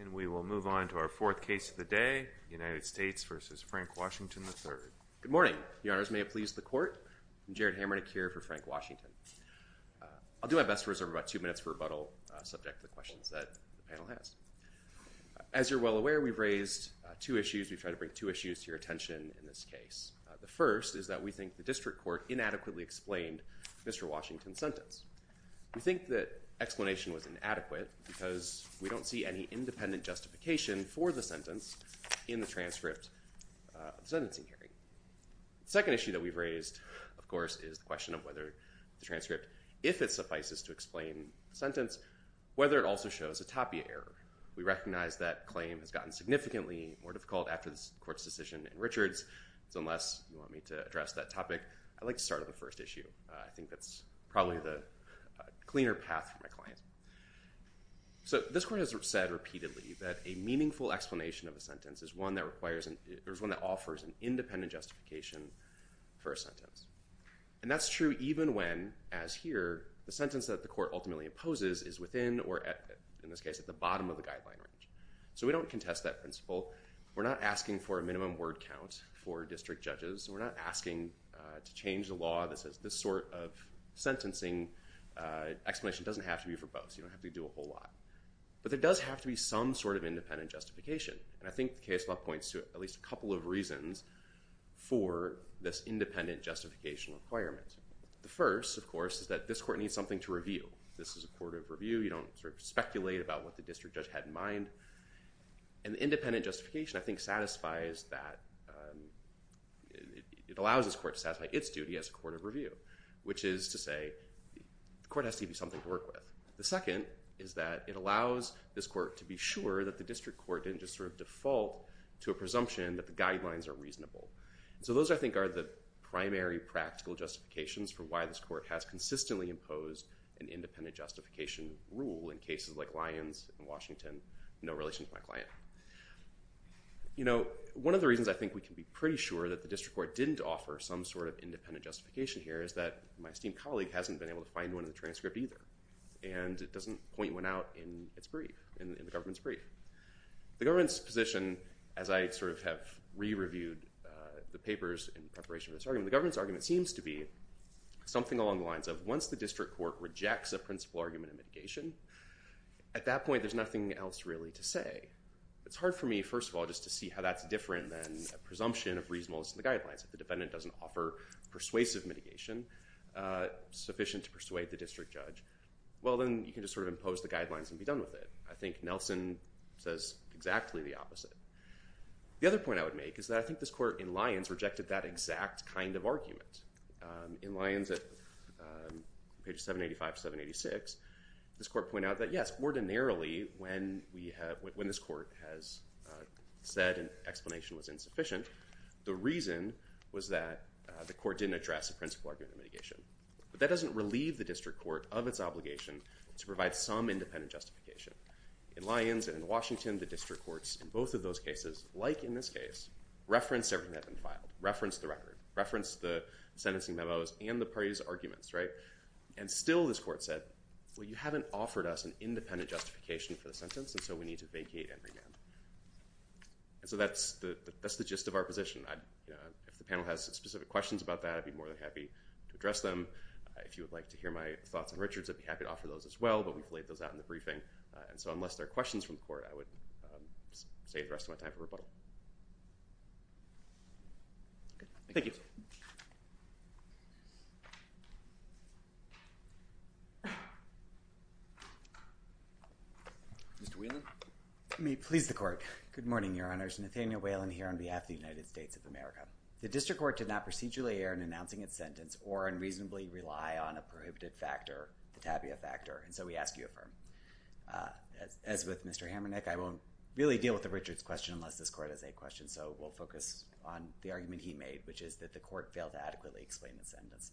And we will move on to our fourth case of the day, United States v. Frank Washington, III. Good morning. Your Honors, may it please the Court. I'm Jared Hammer. I'm here for Frank Washington. I'll do my best to reserve about two minutes for rebuttal subject to the questions that the panel has. As you're well aware, we've raised two issues. We've tried to bring two issues to your attention in this case. The first is that we think the District Court inadequately explained Mr. Washington's sentence. We think that explanation was inadequate because we don't see any independent justification for the sentence in the transcript of the sentencing hearing. The second issue that we've raised, of course, is the question of whether the transcript, if it suffices to explain the sentence, whether it also shows a tapia error. We recognize that claim has gotten significantly more difficult after the Court's decision in Richards. So unless you want me to address that topic, I'd like to start on the first issue. I think that's probably the cleaner path for my clients. So this Court has said repeatedly that a meaningful explanation of a sentence is one that requires and is one that offers an independent justification for a sentence. And that's true even when, as here, the sentence that the Court ultimately opposes is within or, in this case, at the bottom of the guideline range. So we don't contest that principle. We're not asking for a minimum word count for District Judges. We're not asking to change the law that says this sort of sentencing explanation doesn't have to be verbose. You don't have to do a whole lot. But there does have to be some sort of independent justification. And I think the case law points to at least a couple of reasons for this independent justification requirement. The first, of course, is that this Court needs something to review. This is a court of review. You don't sort of speculate about what the District Judge had in mind. And the independent justification, I think, satisfies that. It allows this Court to satisfy its duty as a court of review, which is to say the Court has to give you something to work with. The second is that it allows this Court to be sure that the District Court didn't just sort of default to a presumption that the guidelines are reasonable. So those, I think, are the primary practical justifications for why this Court has consistently imposed an independent justification rule in cases like Lyons and Washington in no relation to my client. You know, one of the reasons I think we can be pretty sure that the District Court didn't offer some sort of independent justification here is that my esteemed colleague hasn't been able to find one in the transcript either. And it doesn't point one out in its brief, in the government's brief. The government's position, as I sort of have re-reviewed the papers in preparation for this argument, the government's argument seems to be something along the lines of once the District Court rejects a principle argument of mitigation, at that point there's nothing else really to say. It's hard for me, first of all, just to see how that's different than a presumption of reasonableness in the guidelines. If the defendant doesn't offer persuasive mitigation sufficient to persuade the District Judge, well then you can just sort of impose the guidelines and be done with it. I think Nelson says exactly the opposite. The other point I would make is that I think this Court in Lyons rejected that exact kind of argument. In Lyons at page 785-786, this Court pointed out that yes, ordinarily when we have, when this Court has said an explanation was insufficient, the reason was that the Court didn't address a principle argument of mitigation. But that doesn't relieve the District Court of its obligation to provide some independent justification. In Lyons and in Washington, the District Courts in both of those cases, like in this case, referenced everything that had been filed, referenced the record, referenced the sentencing memos and the parties' arguments, right? And still this Court said, well you haven't offered us an independent justification for the sentence and so we need to vacate and revamp. So that's the gist of our position. If the panel has specific questions about that, I'd be more than happy to address them. If you would like to hear my thoughts on Richards, I'd be happy to offer those as well, but we've laid those out in the briefing. And so unless there are questions from the Court, I would save the rest of my time for rebuttal. Thank you. Mr. Whelan. May it please the Court. Good morning, Your Honors. Nathanael Whelan here on behalf of the United States of America. The District Court did not procedurally err in announcing its sentence or unreasonably rely on a prohibited factor, the tabia factor, and so we ask you affirm. As with Mr. Hamernick, I won't really deal with the Richards question unless this Court has a question, so we'll focus on the argument he made, which is that the Court failed to adequately explain the sentence.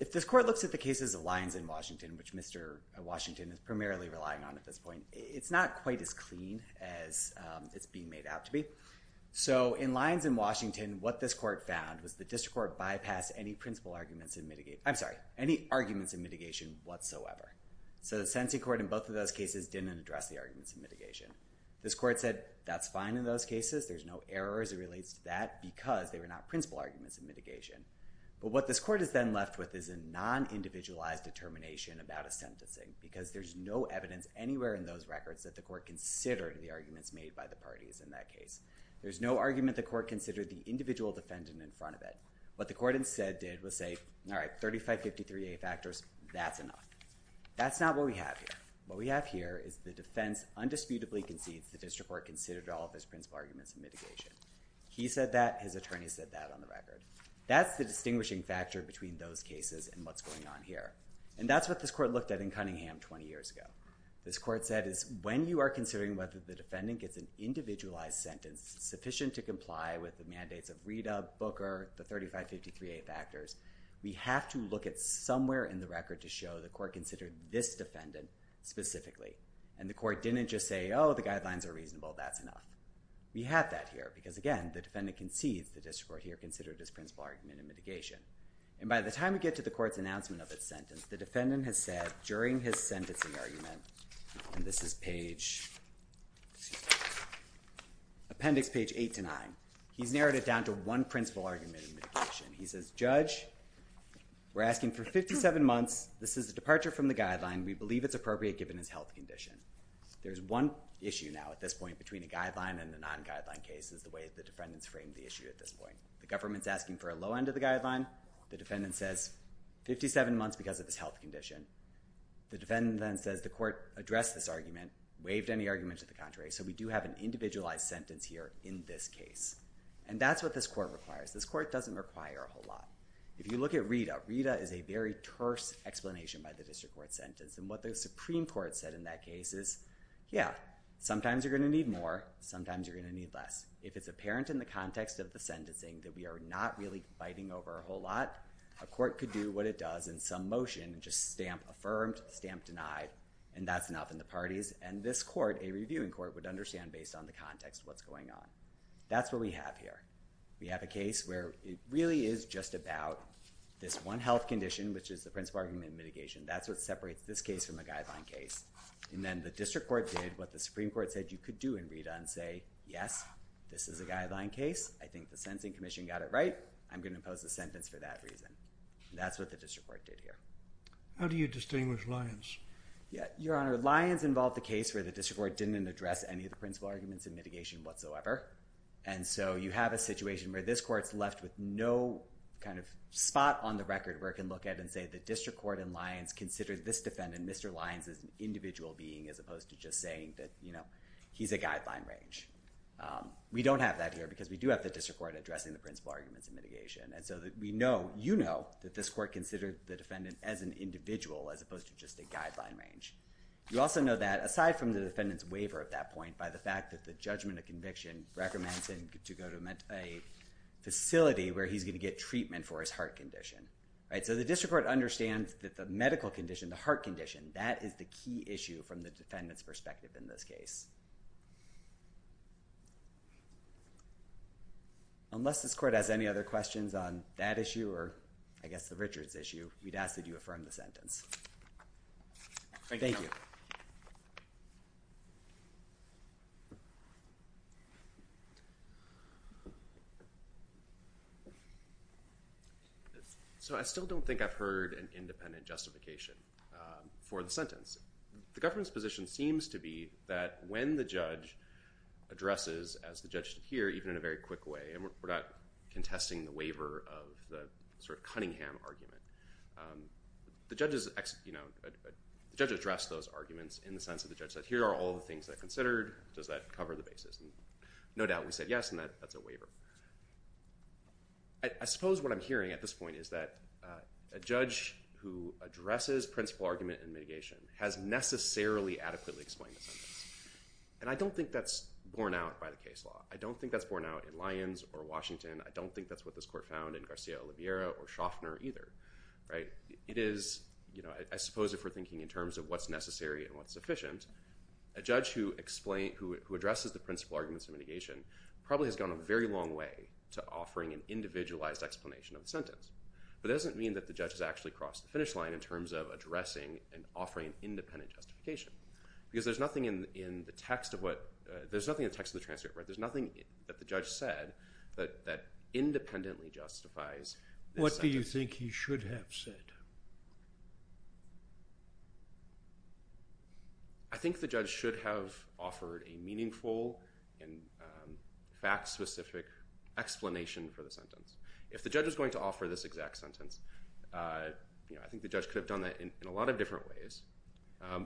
If this Court looks at the cases of Lyons and Washington, which Mr. Washington is primarily relying on at this point, it's not quite as clean as it's being made out to be. So in Lyons and Washington, what this Court found was the District Court bypassed any I'm sorry, any arguments in mitigation whatsoever. So the sentencing Court in both of those cases didn't address the arguments in mitigation. This Court said that's fine in those cases, there's no error as it relates to that because they were not principal arguments in mitigation. But what this Court is then left with is a non-individualized determination about a sentencing because there's no evidence anywhere in those records that the Court considered the arguments made by the parties in that case. There's no argument the Court considered the individual defendant in front of it. What the Court instead did was say, all right, 3553A factors, that's enough. That's not what we have here. What we have here is the defense undisputably concedes the District Court considered all of his principal arguments in mitigation. He said that, his attorney said that on the record. That's the distinguishing factor between those cases and what's going on here. And that's what this Court looked at in Cunningham 20 years ago. This Court said is when you are considering whether the defendant gets an individualized sentence sufficient to comply with the mandates of Reda, Booker, the 3553A factors, we have to look at somewhere in the record to show the Court considered this defendant specifically. And the Court didn't just say, oh, the guidelines are reasonable, that's enough. We have that here because, again, the defendant concedes the District Court here considered his principal argument in mitigation. And by the time we get to the Court's announcement of its sentence, the defendant has said during his sentencing argument, and this is page, appendix page 8 to 9, he's narrowed it down to one principal argument in mitigation. He says, Judge, we're asking for 57 months. This is a departure from the guideline. We believe it's appropriate given his health condition. There's one issue now at this point between a guideline and a non-guideline case is the way the defendant's framed the issue at this point. The government's asking for a low end of the guideline. The defendant says 57 months because of his health condition. The defendant then says the Court addressed this argument, waived any argument to the contrary, so we do have an individualized sentence here in this case. And that's what this Court requires. This Court doesn't require a whole lot. If you look at RETA, RETA is a very terse explanation by the District Court sentence. And what the Supreme Court said in that case is, yeah, sometimes you're going to need more, sometimes you're going to need less. If it's apparent in the context of the sentencing that we are not really fighting over a whole lot, a court could do what it does in some motion and just stamp affirmed, stamp denied, and that's enough in the parties. And this court, a reviewing court, would understand based on the context what's going on. That's what we have here. We have a case where it really is just about this one health condition, which is the principle argument of mitigation. That's what separates this case from a guideline case. And then the District Court did what the Supreme Court said you could do in RETA and say, yes, this is a guideline case. I think the Sentencing Commission got it right. I'm going to impose a sentence for that reason. That's what the District Court did here. How do you distinguish Lyons? Yeah, Your Honor, Lyons involved the case where the District Court didn't address any of the principle arguments in mitigation whatsoever. And so you have a situation where this court's left with no kind of spot on the record where it can look at it and say the District Court and Lyons considered this defendant, Mr. Lyons, as an individual being as opposed to just saying that, you know, he's a guideline range. We don't have that here because we do have the District Court addressing the principle arguments in mitigation. And so we know, you know, that this court considered the defendant as an individual as opposed to just a guideline range. You also know that aside from the defendant's waiver at that point by the fact that the judgment of conviction recommends him to go to a facility where he's going to get treatment for his heart condition. All right, so the District Court understands that the medical condition, the heart condition, that is the key issue from the defendant's perspective in this case. Unless this court has any other questions on that issue or, I guess, the Richards issue, we'd ask that you affirm the sentence. Thank you. So I still don't think I've heard an independent justification for the sentence. The government's position seems to be that when the judge addresses, as the judge did here, even in a very quick way, and we're not contesting the waiver of the sort of Cunningham argument, the judge addressed those arguments in the sense that the judge said, here are all the things that are considered. Does that cover the basis? And no doubt we said yes, and that's a waiver. I suppose what I'm hearing at this point is that a judge who addresses principle argument in mitigation has necessarily adequately explained the sentence. And I don't think that's borne out by the case law. I don't think that's borne out in Lyons or Washington. I don't think that's what this court found in Garcia-Oliveira or Shoffner either. It is, I suppose if we're thinking in terms of what's necessary and what's sufficient, a judge who addresses the principle arguments in mitigation probably has gone a very long way to offering an individualized explanation of the sentence. But that doesn't mean that the judge has actually crossed the finish line in terms of addressing and offering an independent justification. Because there's nothing in the text of the transcript, there's nothing that the judge said that independently justifies this sentence. What do you think he should have said? I think the judge should have offered a meaningful and fact-specific explanation for the sentence. If the judge was going to offer this exact sentence, I think the judge could have done that in a lot of different ways.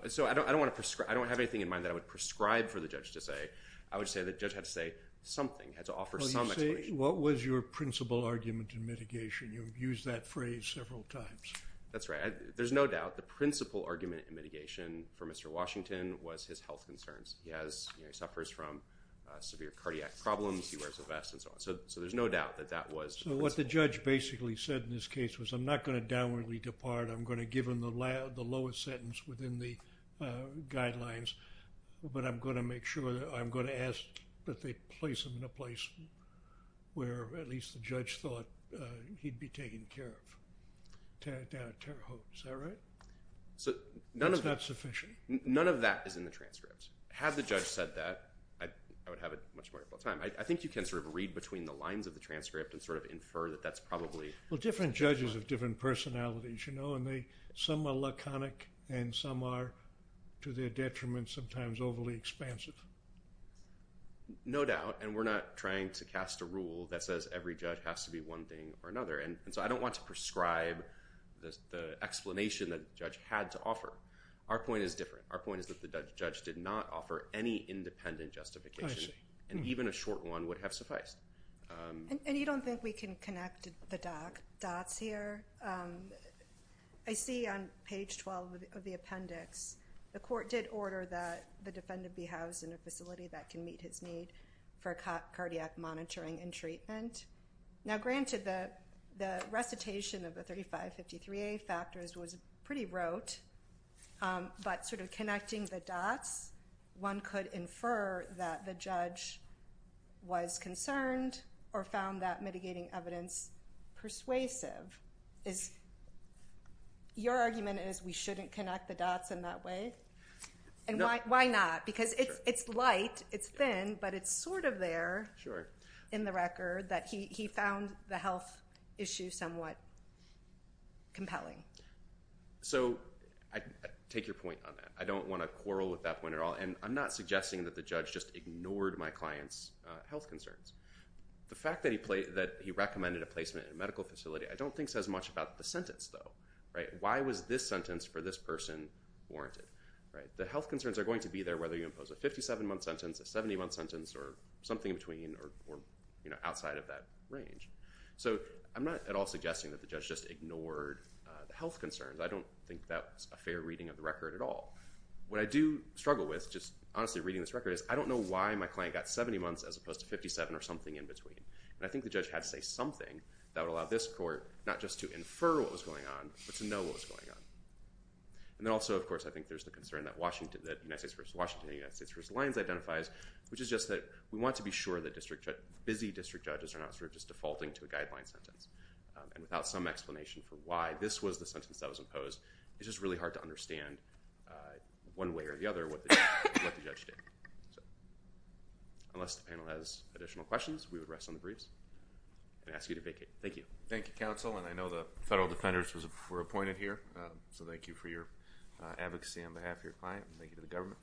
So I don't have anything in mind that I would prescribe for the judge to say. I would say the judge had to say something, had to offer some explanation. What was your principle argument in mitigation? You've used that phrase several times. That's right. There's no doubt the principle argument in mitigation for Mr. Washington was his health concerns. He suffers from severe cardiac problems, he wears a vest and so on. So there's no doubt that that was the principle. So what the judge basically said in this case was, I'm not going to downwardly depart, I'm going to give him the lowest sentence within the guidelines, but I'm going to make sure that I'm going to ask that they place him in a place where at least the judge thought he'd be taken care of. Tear it down a tear hole. Is that right? That's not sufficient. None of that is in the transcript. Had the judge said that, I would have it much more time. I think you can sort of read between the lines of the transcript and sort of infer that that's probably… Well, different judges have different personalities, you know, and some are laconic and some are, to their detriment, sometimes overly expansive. No doubt, and we're not trying to cast a rule that says every judge has to be one thing or another. And so I don't want to prescribe the explanation that the judge had to offer. Our point is different. Our point is that the judge did not offer any independent justification, and even a short one would have sufficed. And you don't think we can connect the dots here? I see on page 12 of the appendix, the court did order that the defendant be housed in a facility that can meet his need for cardiac monitoring and treatment. Now granted, the recitation of the 3553A factors was pretty rote, but sort of connecting the dots, one could infer that the judge was concerned or found that mitigating evidence persuasive. Your argument is we shouldn't connect the dots in that way? And why not? Because it's light, it's thin, but it's sort of there in the record that he found the health issue somewhat compelling. So take your point on that. I don't want to quarrel with that point at all, and I'm not suggesting that the judge just ignored my client's health concerns. The fact that he recommended a placement in a medical facility, I don't think says much about the sentence though. Why was this sentence for this person warranted? The health concerns are going to be there whether you impose a 57-month sentence, a 70-month sentence, or something in between, or outside of that range. So I'm not at all suggesting that the judge just ignored the health concerns. I don't think that's a fair reading of the record at all. What I do struggle with, just honestly reading this record, is I don't know why my client got 70 months as opposed to 57 or something in between. And I think the judge had to say something that would allow this court not just to infer what was going on, but to know what was going on. And then also, of course, I think there's the concern that the United States v. Washington and the United States v. Lyons identifies, which is just that we want to be sure that busy district judges are not sort of just defaulting to a guideline sentence, and without some explanation for why this was the sentence that was imposed, it's just really hard to understand one way or the other what the judge did. Unless the panel has additional questions, we would rest on the briefs and ask you to Thank you. Thank you, counsel. And I know the federal defenders were appointed here. So thank you for your advocacy on behalf of your client, and thank you to the government.